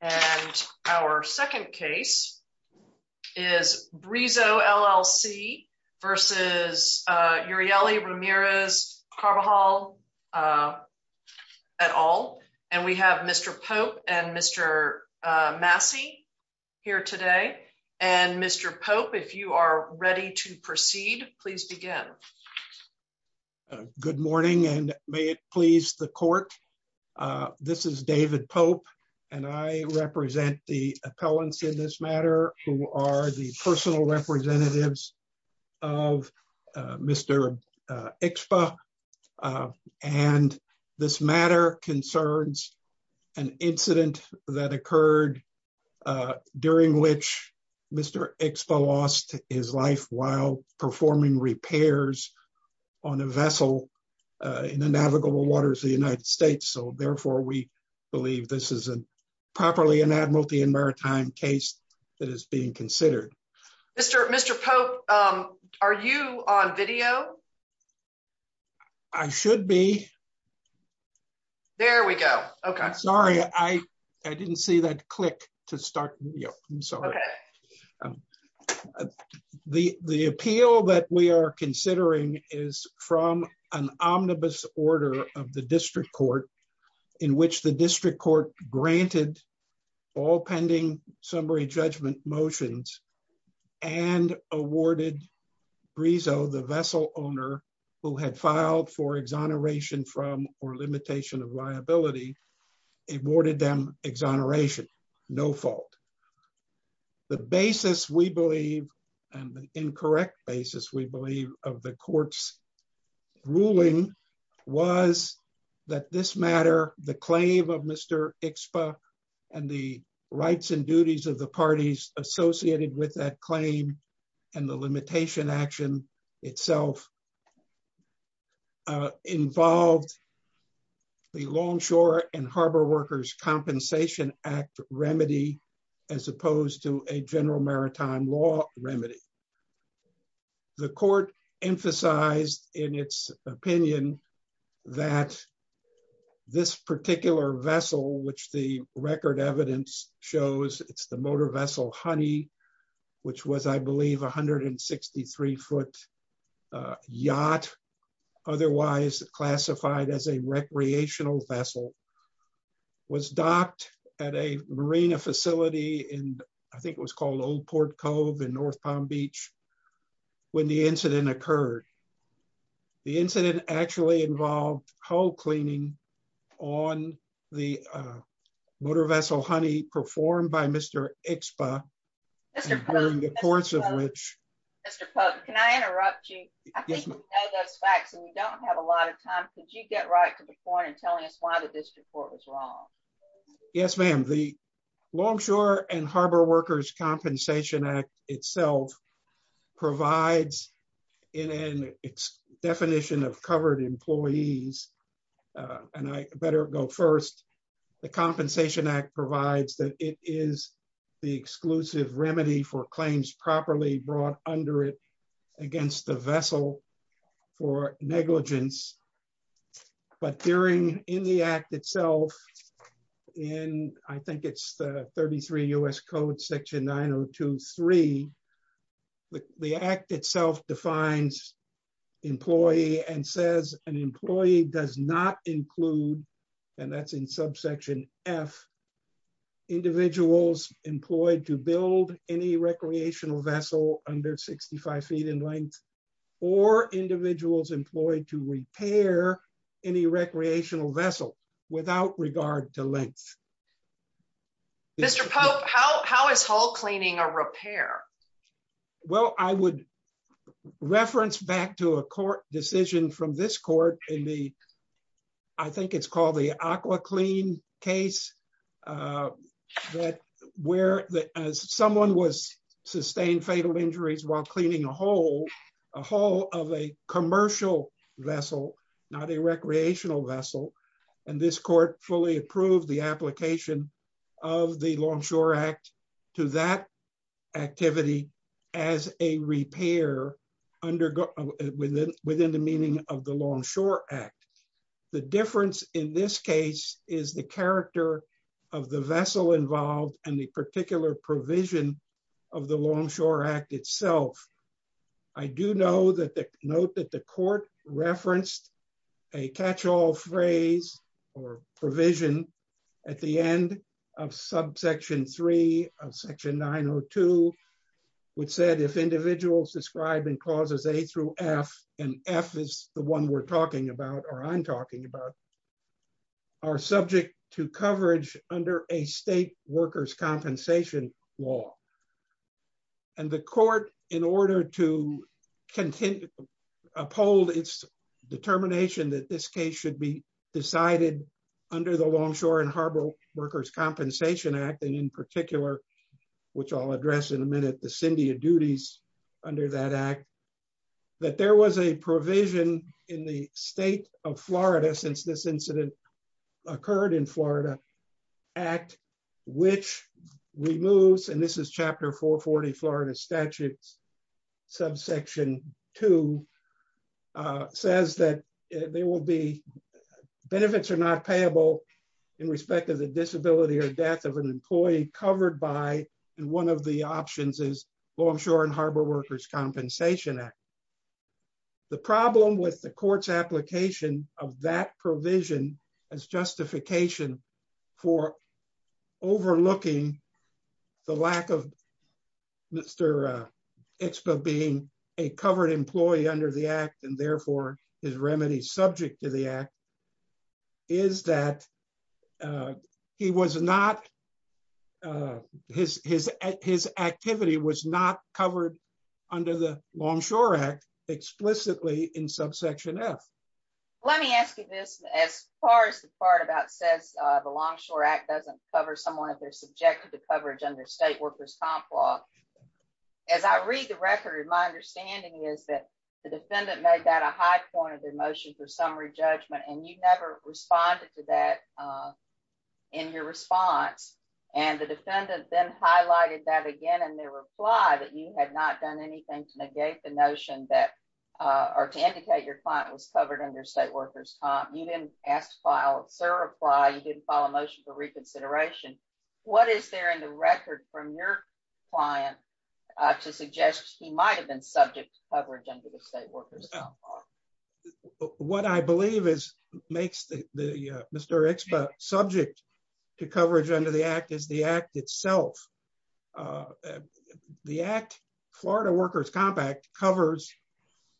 at all. And we have Mr. Pope and Mr. Massey here today. And Mr. Pope, if you are ready to proceed, please begin. Good morning, and may it please the court. This is David Pope, and I am the attorney general of Urieli Carbajal. I represent the appellants in this matter, who are the personal representatives of Mr. Expo. And this matter concerns an incident that occurred during which Mr. Expo lost his life while performing repairs on a vessel in the navigable waters of the United States. So therefore, we believe this is a properly an admiralty and maritime case that is being considered. Mr. Mr. Pope, are you on video? I should be. There we go. Okay. Sorry, I didn't see that click to start. I'm sorry. The, the appeal that we are considering is from an omnibus order of the district court, in which the district court granted all pending summary judgment motions and awarded Rizzo, the vessel owner who had filed for exoneration from or limitation of liability, awarded them exoneration, no fault. The basis, we believe, and the incorrect basis we believe of the court's ruling was that this matter, the claim of Mr. Expo, and the rights and duties of the parties associated with that claim, and the limitation action itself involved the Longshore and Harbor Workers Compensation Act remedy, as opposed to a general maritime law remedy. The court emphasized in its opinion that this particular vessel which the record evidence shows it's the motor vessel honey, which was I believe 163 foot yacht, otherwise classified as a recreational vessel, was docked at a Marina facility in, I think it was called Old Port Cove in North Palm Beach. When the incident occurred. The incident actually involved whole cleaning on the motor vessel honey performed by Mr. Expo. During the course of which can I interrupt you. We don't have a lot of time, could you get right to the point and telling us why the district court was wrong. Yes, ma'am. The Longshore and Harbor Workers Compensation Act itself provides in its definition of covered employees. And I better go first. The Compensation Act provides that it is the exclusive remedy for claims properly brought under it against the vessel for negligence. But during in the act itself, and I think it's the 33 US code section 9023. The act itself defines employee and says, an employee does not include. And that's in subsection F individuals employed to build any recreational vessel under 65 feet in length, or individuals employed to repair any recreational vessel, without regard to length. Mr Pope, how is whole cleaning a repair. Well, I would reference back to a court decision from this court in the. I think it's called the aqua clean case that where someone was sustained fatal injuries while cleaning a whole, a whole of a commercial vessel, not a recreational vessel. And this court fully approved the application of the Longshore Act to that activity as a repair under within within the meaning of the Longshore Act. The difference in this case is the character of the vessel involved, and the particular provision of the Longshore Act itself. I do know that the note that the court referenced a catch all phrase or provision at the end of subsection three of section nine or two, which said if individuals described in clauses a through F and F is the one we're talking about or I'm talking about are subject to coverage under a state workers compensation law. And the court in order to continue uphold its determination that this case should be decided under the Longshore and Harbor Workers Compensation Act and in particular, which I'll address in a minute the Cindy duties under that act that there was a provision in the state of Florida since this incident occurred in Florida at which removes and this is chapter 440 Florida statutes subsection to says that there will be benefits are not payable in respect of the disability or death of an employee covered by. And one of the options is Longshore and Harbor Workers Compensation Act. The problem with the courts application of that provision as justification for overlooking the lack of Mr. It's been being a covered employee under the act and therefore his remedy subject to the act is that he was not his, his, his activity was not covered under the Longshore Act, explicitly in subsection F. Let me ask you this, as far as the part about says the Longshore Act doesn't cover someone if they're subjected to coverage under state workers comp law. As I read the record my understanding is that the defendant made that a high point of emotion for summary judgment and you've never responded to that. In your response, and the defendant then highlighted that again and they reply that you had not done anything to negate the notion that are to indicate your client was covered under state workers. You didn't ask file, sir apply you didn't follow motion for reconsideration. What is there in the record from your client to suggest he might have been subject to coverage under the state workers. What I believe is makes the Mr expert subject to coverage under the act is the act itself. The act Florida workers compact covers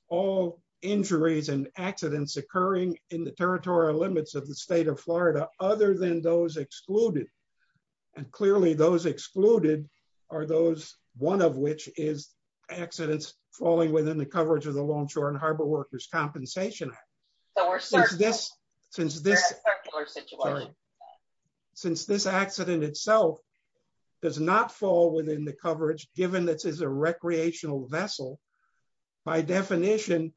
all injuries and accidents occurring in the territorial limits of the state of Florida, other than those excluded. And clearly those excluded are those, one of which is accidents, falling within the coverage of the longshore and harbor workers compensation. So we're starting this. Since this. Since this accident itself does not fall within the coverage, given this is a recreational vessel. By definition,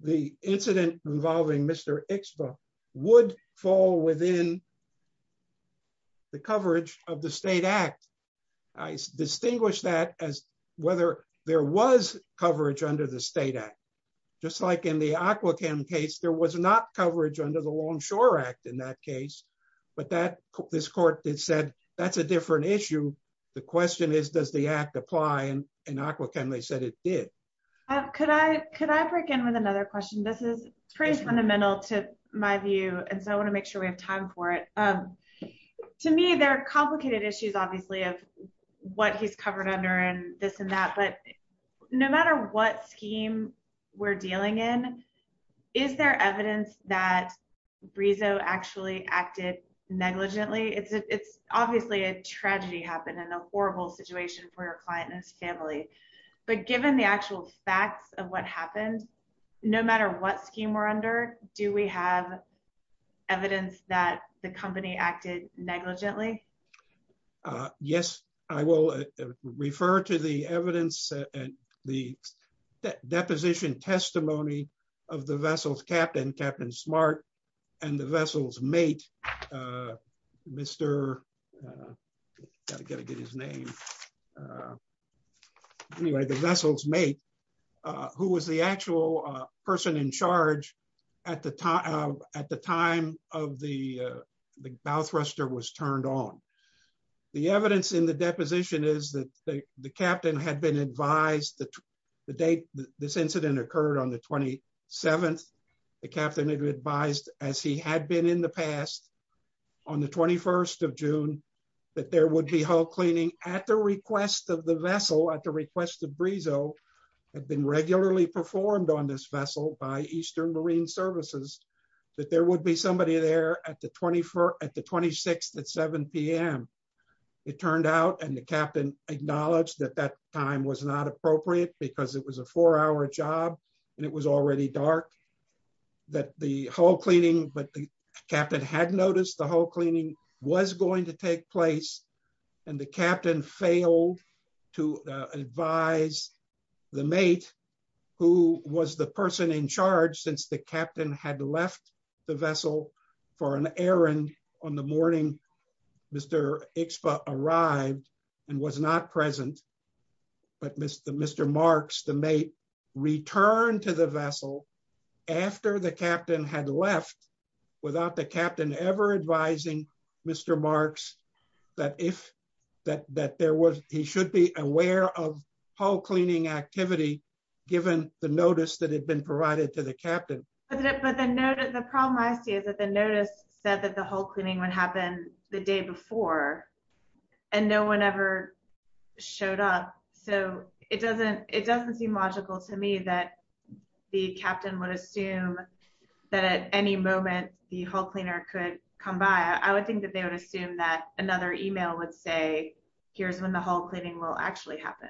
the incident involving Mr expert would fall within the coverage of the state act. I distinguish that as whether there was coverage under the state act, just like in the aqua cam case there was not coverage under the longshore act in that case, but that this court that said that's a different issue. The question is, does the act apply and and aqua can they said it did. Could I could I break in with another question. This is pretty fundamental to my view. And so I want to make sure we have time for it. To me, there are complicated issues, obviously, of what he's covered under and this and that. But no matter what scheme we're dealing in. Is there evidence that Rizzo actually acted negligently it's obviously a tragedy happened in a horrible situation for your client and family, but given the actual facts of what happened. No matter what scheme we're under. Do we have evidence that the company acted negligently. Yes, I will refer to the evidence and the deposition testimony of the vessels captain captain smart and the vessels mate. Mr. Gotta get his name. Anyway, the vessels mate, who was the actual person in charge. At the time, at the time of the bow thruster was turned on. The evidence in the deposition is that the captain had been advised that the date. This incident occurred on the 27th. The captain had advised, as he had been in the past. On the 21st of June, that there would be whole cleaning at the request of the vessel at the request of Rizzo had been regularly performed on this vessel by Eastern Marine Services, that there would be somebody there at the 24th at the 26th at 7pm. It turned out and the captain acknowledged that that time was not appropriate because it was a four hour job, and it was already dark, that the whole cleaning but the captain had noticed the whole cleaning was going to take place. And the captain failed to advise the mate, who was the person in charge since the captain had left the vessel for an errand on the morning. Mr. arrived and was not present. But Mr. Mr marks the may return to the vessel. After the captain had left without the captain ever advising. Mr. that if that that there was, he should be aware of whole cleaning activity, given the notice that had been provided to the captain. But then notice the problem I see is that the notice said that the whole cleaning would happen the day before. And no one ever showed up. So, it doesn't, it doesn't seem logical to me that the captain would assume that at any moment, the whole cleaner could come by, I would think that they would assume that another email would say, here's when the whole cleaning will actually happen.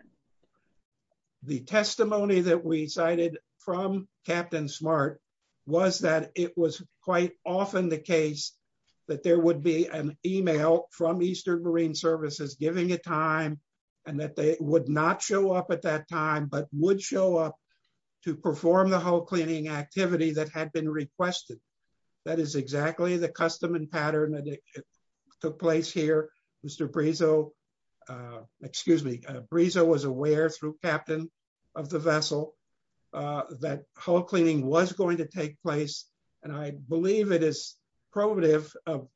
The testimony that we cited from Captain smart was that it was quite often the case that there would be an email from Eastern Marine Services giving a time, and that they would not show up at that time but would show up to perform the whole cleaning activity that had been requested. That is exactly the custom and pattern that took place here, Mr Brizzo, excuse me, Brizzo was aware through captain of the vessel that whole cleaning was going to take place, and I believe it is probative of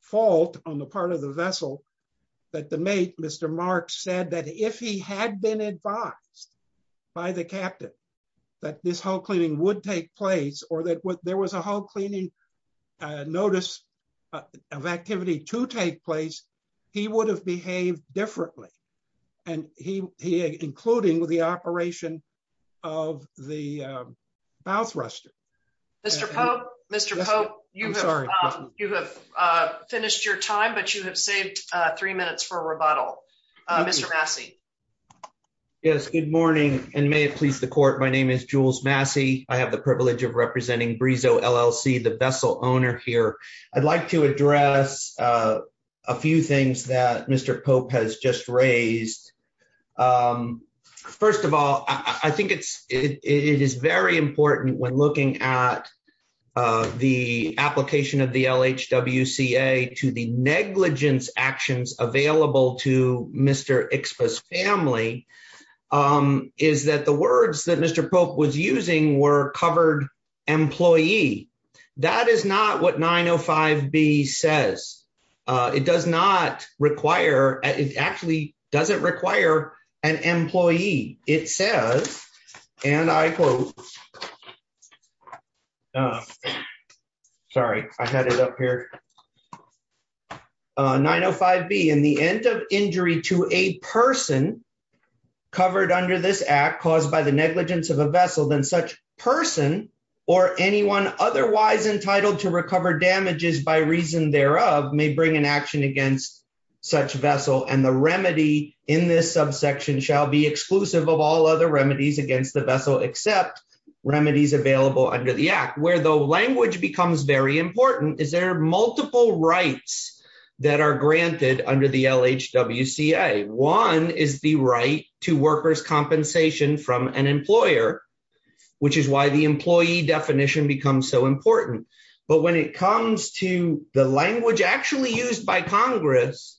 fault on the part of the vessel that the notice of activity to take place. He would have behaved differently. And he, including with the operation of the mouth ruster. Mr. Mr. You have finished your time but you have saved three minutes for rebuttal. Mr Massey. Yes, good morning, and may it please the court. My name is Jules Massey, I have the privilege of representing Brizzo LLC the vessel owner here. I'd like to address a few things that Mr Pope has just raised. First of all, I think it's, it is very important when looking at the application of the LH WCA to the negligence actions available to Mr express family is that the words that Mr Pope was using were covered employee. That is not what 905 be says it does not require it actually doesn't require an employee, it says, and I quote. Sorry, I had it up here. 905 be in the end of injury to a person covered under this act caused by the negligence of a vessel than such person, or anyone otherwise entitled to recover damages by reason thereof may bring an action against such vessel and the remedy in this subsection shall be exclusive of all other remedies against the vessel except remedies available under the act where the language becomes very important is there multiple rights that are granted under the LH WCA one is the right to workers compensation from an employer, which is why the employee definition becomes so important. But when it comes to the language actually used by Congress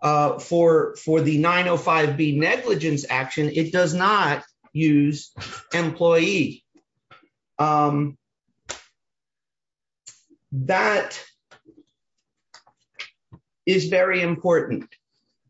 for for the 905 be negligence action it does not use employee. That is very important,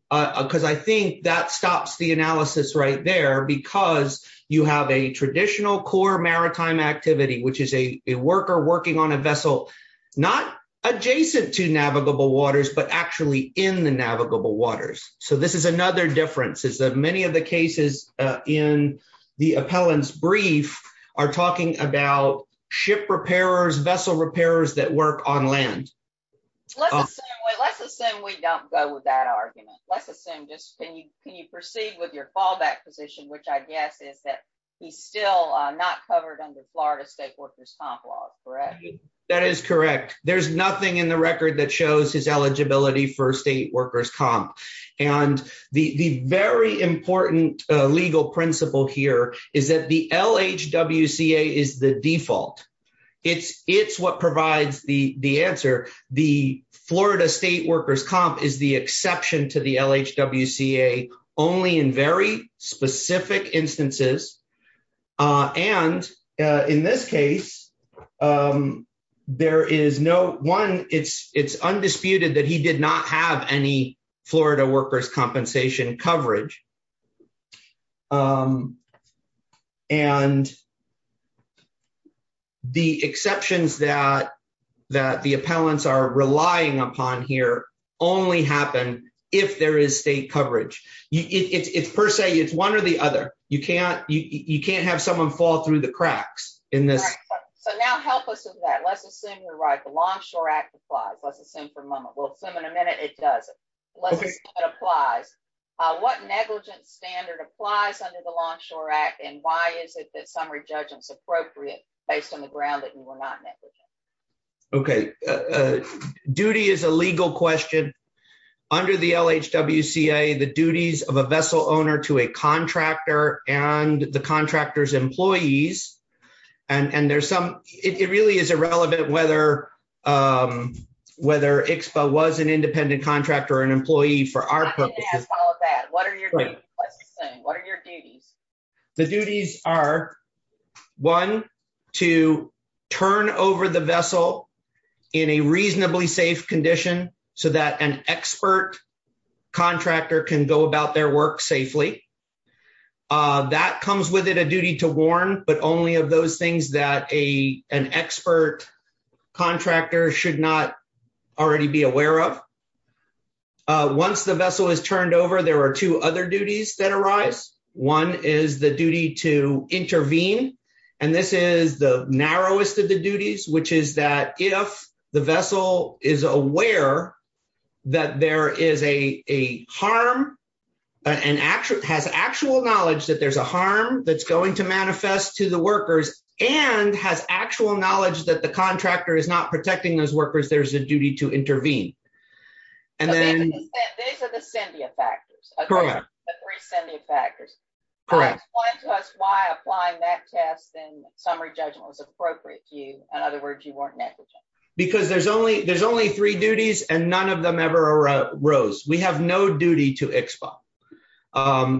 because I think that stops the analysis right there because you have a traditional core maritime activity which is a worker working on a vessel, not adjacent to navigable waters but actually in the navigable waters. So this is another difference is that many of the cases in the appellants brief are talking about ship repairers vessel repairers that work on land. Let's assume we don't go with that argument, let's assume just can you can you proceed with your fallback position which I guess is that he's still not covered under Florida state workers comp law, correct. That is correct, there's nothing in the record that shows his eligibility for state workers comp. And the very important legal principle here is that the LH WCA is the default. It's, it's what provides the the answer. The Florida state workers comp is the exception to the LH WCA only in very specific instances. And in this case, there is no one, it's, it's undisputed that he did not have any Florida workers compensation coverage. And the exceptions that that the appellants are relying upon here only happen if there is state coverage, it's per se it's one or the other. You can't, you can't have someone fall through the cracks in this. So now help us with that let's assume you're right the Longshore Act applies, let's assume for a moment we'll assume in a minute it doesn't apply. What negligence standard applies under the Longshore Act and why is it that summary judgments appropriate based on the ground that you were not negligent. Okay. Duty is a legal question. Under the LH WCA the duties of a vessel owner to a contractor, and the contractors employees. And there's some, it really is irrelevant whether whether expo was an independent contractor and employee for our purposes. What are your, what are your duties. The duties are one to turn over the vessel in a reasonably safe condition, so that an expert contractor can go about their work safely. That comes with it a duty to warn, but only of those things that a, an expert contractor should not already be aware of. Once the vessel is turned over there are two other duties that arise. One is the duty to intervene. And this is the narrowest of the duties which is that if the vessel is aware that there is a harm and actually has actual knowledge that there's a harm that's going to manifest to the workers, and has actual knowledge that the contractor is not protecting those workers there's a duty to intervene. And then, these are the symbiotic factors. Factors. Correct. Why applying that test and summary judgment was appropriate to you. In other words, you weren't negligent, because there's only there's only three duties and none of them ever arose, we have no duty to expo.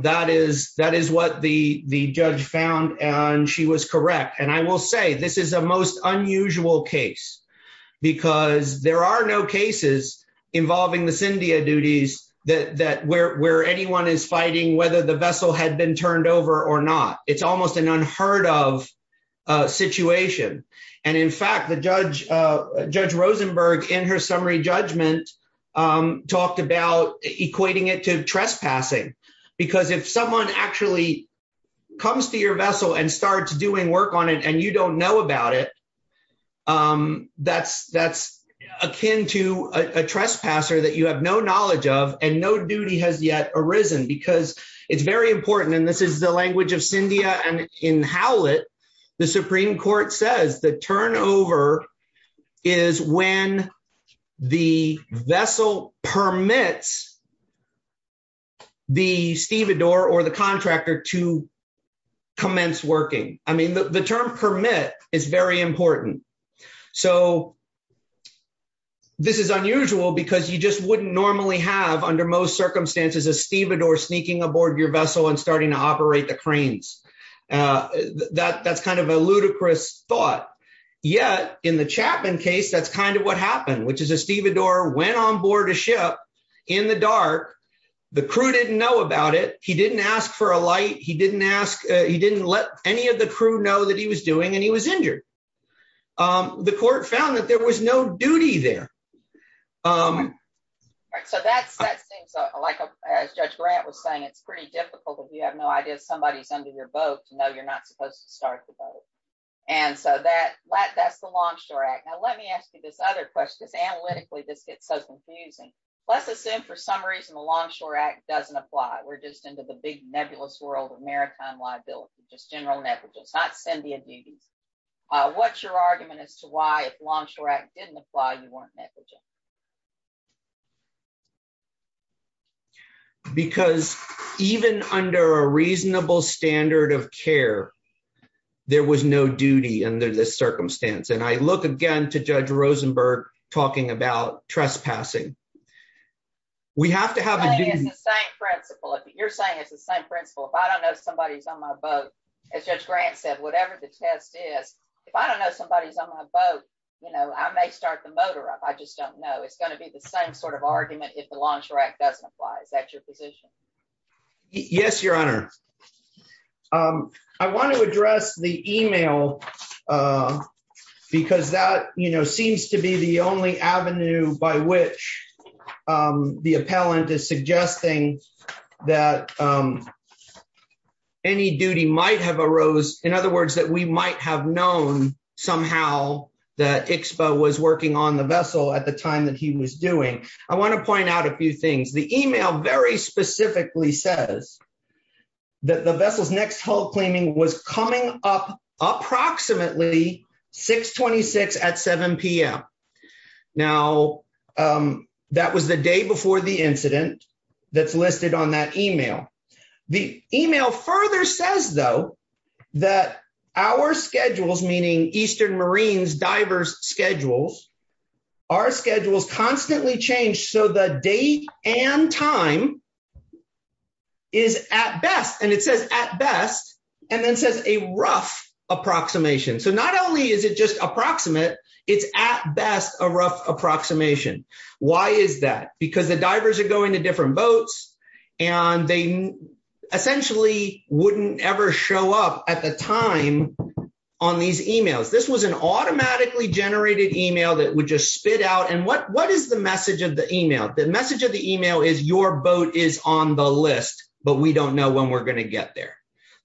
That is, that is what the, the judge found and she was correct and I will say this is a most unusual case. Because there are no cases involving the Cyndia duties that that where where anyone is fighting whether the vessel had been turned over or not, it's almost an unheard of situation. And in fact the judge, Judge Rosenberg in her summary judgment, talked about equating it to trespassing, because if someone actually comes to your vessel and start doing work on it and you don't know about it. That's, that's akin to a trespasser that you have no knowledge of, and no duty has yet arisen because it's very important and this is the language of Cyndia and in how it. The Supreme Court says the turnover is when the vessel permits the stevedore or the contractor to commence working, I mean the term permit is very important. So, this is unusual because you just wouldn't normally have under most circumstances a stevedore sneaking aboard your vessel and starting to operate the cranes. That that's kind of a ludicrous thought. Yet, in the Chapman case that's kind of what happened which is a stevedore went on board a ship in the dark. The crew didn't know about it, he didn't ask for a light he didn't ask, he didn't let any of the crew know that he was doing and he was injured. The court found that there was no duty there. So that seems like, as Judge Grant was saying, it's pretty difficult if you have no idea somebody's under your boat to know you're not supposed to start the boat. And so that, that's the Longshore Act. Now let me ask you this other question because analytically this gets so confusing. Let's assume for some reason the Longshore Act doesn't apply, we're just into the big nebulous world of maritime liability, just general negligence, not Cyndia duties. What's your argument as to why if Longshore Act didn't apply you weren't negligent? Because even under a reasonable standard of care, there was no duty under this circumstance and I look again to Judge Rosenberg talking about trespassing. You're saying it's the same principle, if I don't know somebody's on my boat, as Judge Grant said, whatever the test is, if I don't know somebody's on my boat, you know, I may start the motor up, I just don't know. It's going to be the same sort of argument if the Longshore Act doesn't apply. Is that your position? Yes, Your Honor. I want to address the email, because that, you know, seems to be the only avenue by which the appellant is suggesting that any duty might have arose. In other words, that we might have known somehow that ICSPA was working on the vessel at the time that he was doing. I want to point out a few things. The email very specifically says that the vessel's next hull claiming was coming up approximately 626 at 7pm. Now, that was the day before the incident that's listed on that email. The email further says, though, that our schedules, meaning Eastern Marines divers schedules, our schedules constantly change so the date and time is at best, and it says at best, and then says a rough approximation. So not only is it just approximate, it's at best a rough approximation. Why is that? Because the divers are going to different boats, and they essentially wouldn't ever show up at the time on these emails. This was an automatically generated email that would just spit out, and what is the message of the email? The message of the email is your boat is on the list, but we don't know when we're going to get there.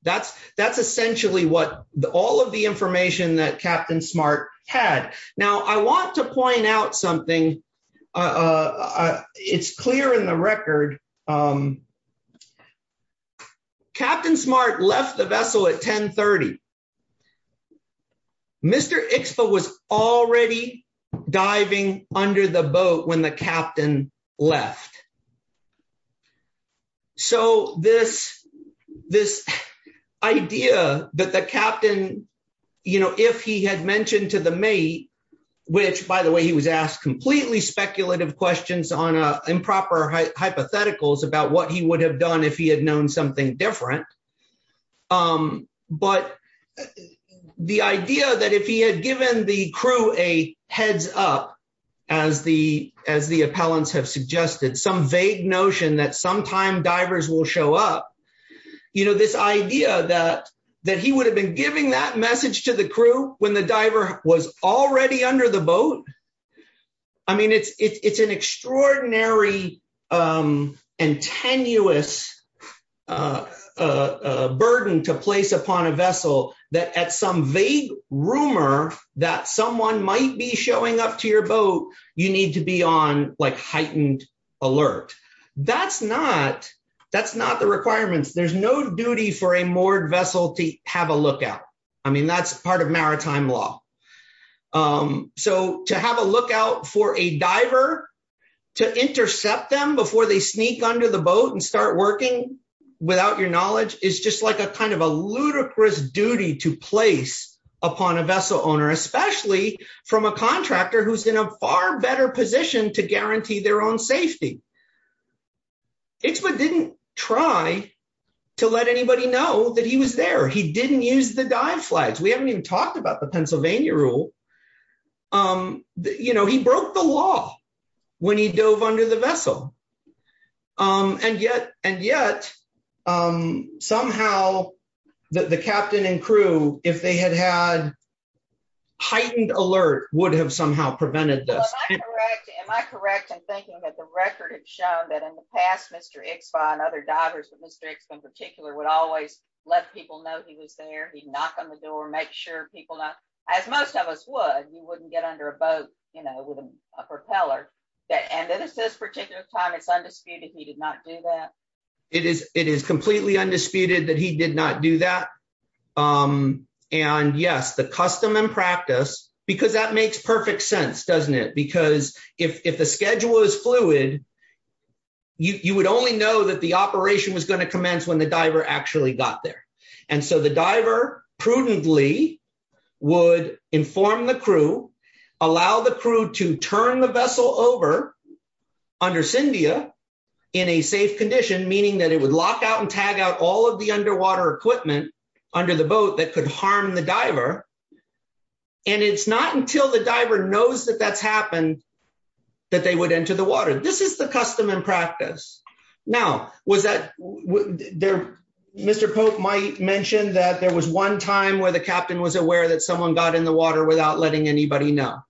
That's, that's essentially what all of the information that Captain Smart had. Now I want to point out something. It's clear in the record. Captain Smart left the vessel at 1030. Mr. ICSPA was already diving under the boat when the captain left. So this, this idea that the captain, you know, if he had mentioned to the mate, which by the way he was asked completely speculative questions on improper hypotheticals about what he would have done if he had known something different. But the idea that if he had given the crew a heads up, as the, as the appellants have suggested some vague notion that sometime divers will show up. You know this idea that, that he would have been giving that message to the crew when the diver was already under the boat. I mean it's, it's an extraordinary and tenuous burden to place upon a vessel that at some vague rumor that someone might be showing up to your boat, you need to be on like heightened alert. That's not, that's not the requirements there's no duty for a moored vessel to have a lookout. I mean that's part of maritime law. So to have a lookout for a diver to intercept them before they sneak under the boat and start working without your knowledge is just like a kind of a ludicrous duty to place upon a vessel owner, especially from a contractor who's in a far better position to guarantee their own safety. It's what didn't try to let anybody know that he was there he didn't use the dive flags we haven't even talked about the Pennsylvania rule. You know he broke the law. When he dove under the vessel. And yet, and yet, somehow, the captain and crew, if they had had heightened alert would have somehow prevented this. Am I correct in thinking that the record has shown that in the past Mr. And other divers with Mr. In particular would always let people know he was there he'd knock on the door, make sure people not as most of us would you wouldn't get under a boat, you know, with a propeller that and then it says particular time it's undisputed he did not do that. It is, it is completely undisputed that he did not do that. And yes, the custom and practice, because that makes perfect sense doesn't it because if the schedule is fluid. You would only know that the operation was going to commence when the diver actually got there. And so the diver prudently would inform the crew, allow the crew to turn the vessel over. Under Cyndia in a safe condition, meaning that it would lock out and tag out all of the underwater equipment under the boat that could harm the diver. And it's not until the diver knows that that's happened that they would enter the water, this is the custom and practice. Now, was that there. Mr Pope might mention that there was one time where the captain was aware that someone got in the water without letting anybody know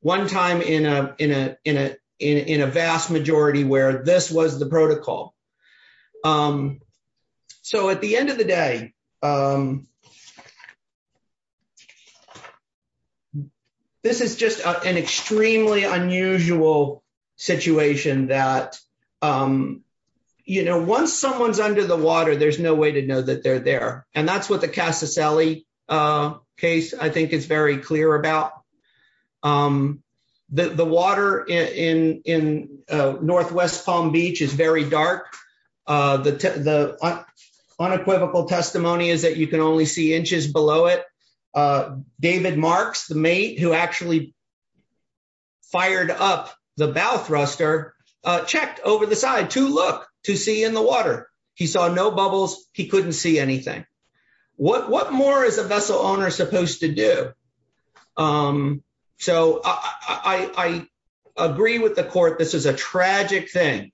one time in a, in a, in a, in a vast majority where this was the protocol. So at the end of the day, this is just an extremely unusual situation that, you know, once someone's under the water, there's no way to know that they're there. And that's what the Casa Sally case, I think it's very clear about the water in in Northwest Palm Beach is very dark. The unequivocal testimony is that you can only see inches below it. David Marks, the mate who actually fired up the bow thruster checked over the side to look to see in the water. He saw no bubbles, he couldn't see anything. What more is a vessel owner supposed to do. So I agree with the court, this is a tragic thing.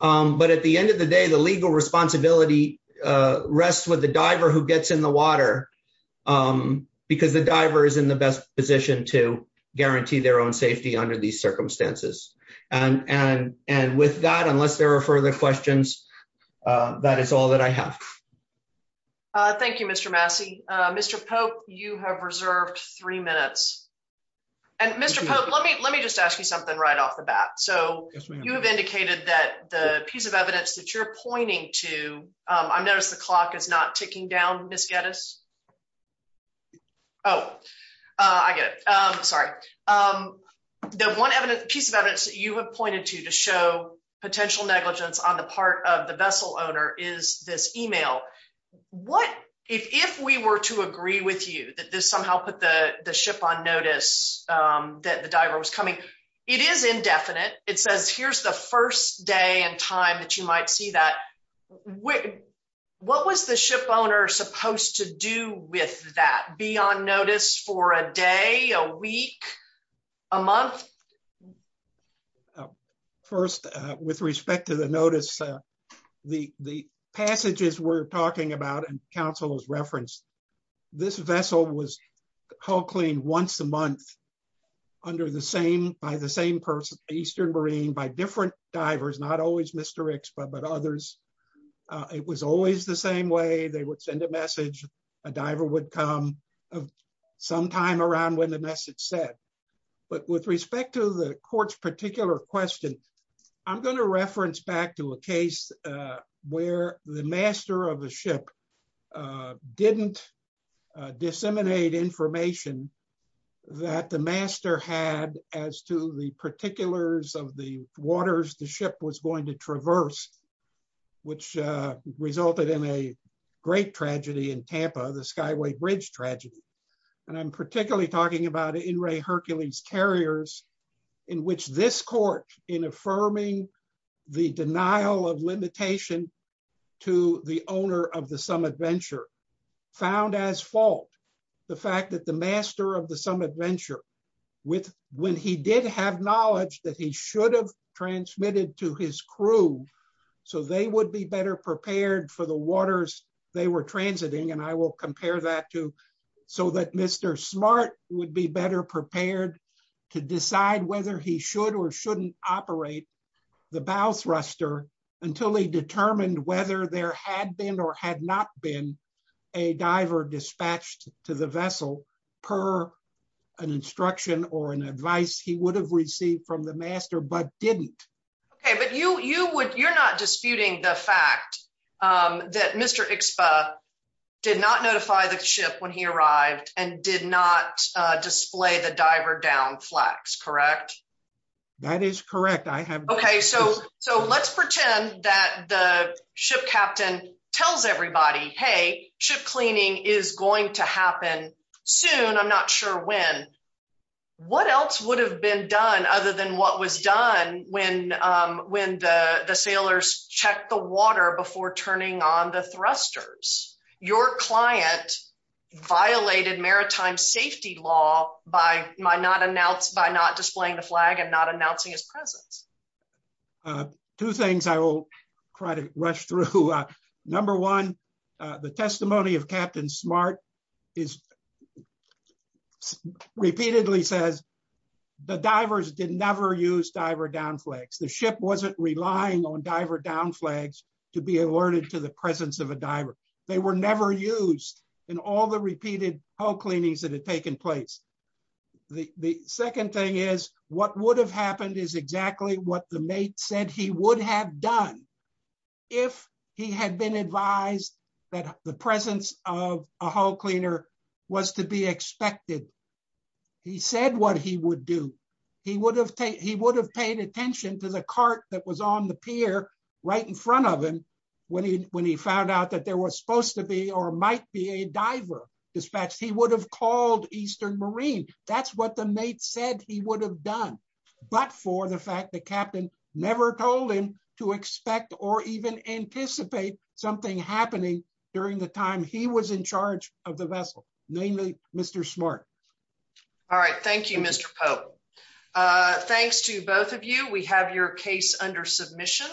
But at the end of the day, the legal responsibility rests with the diver who gets in the water. Because the diver is in the best position to guarantee their own safety under these circumstances. And, and, and with that, unless there are further questions. That is all that I have. Thank you, Mr Massey, Mr Pope, you have reserved three minutes. And Mr Pope, let me let me just ask you something right off the bat. So, you have indicated that the piece of evidence that you're pointing to. I noticed the clock is not ticking down Miss Gettys. Oh, I get it. I'm sorry. The one piece of evidence that you have pointed to to show potential negligence on the part of the vessel owner is this email. What if we were to agree with you that this somehow put the ship on notice that the diver was coming. It is indefinite. It says here's the first day and time that you might see that. What was the ship owner supposed to do with that be on notice for a day, a week, a month. First, with respect to the notice. The, the passages we're talking about and counsel was referenced this vessel was called clean once a month. Under the same by the same person Eastern Marine by different divers not always Mr expert but others. It was always the same way they would send a message, a diver would come sometime around when the message said, but with respect to the courts particular question. I'm going to reference back to a case where the master of the ship. Didn't disseminate information that the master had as to the particulars of the waters, the ship was going to traverse which resulted in a great tragedy in Tampa the skyway bridge tragedy. And I'm particularly talking about in Ray Hercules carriers in which this court in affirming the denial of limitation to the owner of the summit venture found as fault. The fact that the master of the summit venture with when he did have knowledge that he should have transmitted to his crew, so they would be better prepared for the waters, they were transiting and I will compare that to so that Mr. Smart would be better prepared to decide whether he should or shouldn't operate the bow thruster until they determined whether there had been or had not been a diver dispatched to the vessel per an instruction or an advice he would have received from the master but didn't. Okay, but you you would you're not disputing the fact that Mr expo did not notify the ship when he arrived, and did not display the diver down flex correct. That is correct I have. Okay, so, so let's pretend that the ship captain tells everybody hey ship cleaning is going to happen soon I'm not sure when. What else would have been done other than what was done when when the sailors check the water before turning on the thrusters your client violated maritime safety law by my not announced by not displaying the flag and not announcing his presence. Two things I will try to rush through. Number one, the testimony of Captain smart is what the mate said he would have done. If he had been advised that the presence of a whole cleaner was to be expected. He said what he would do. He would have taken he would have paid attention to the cart that was on the pier right in front of him. When he, when he found out that there was supposed to be or might be a diver dispatch he would have called Eastern Marine, that's what the mate said he would have done. But for the fact that captain never told him to expect or even anticipate something happening during the time he was in charge of the vessel, namely, Mr smart. All right, thank you, Mr. Thanks to both of you, we have your case under submission.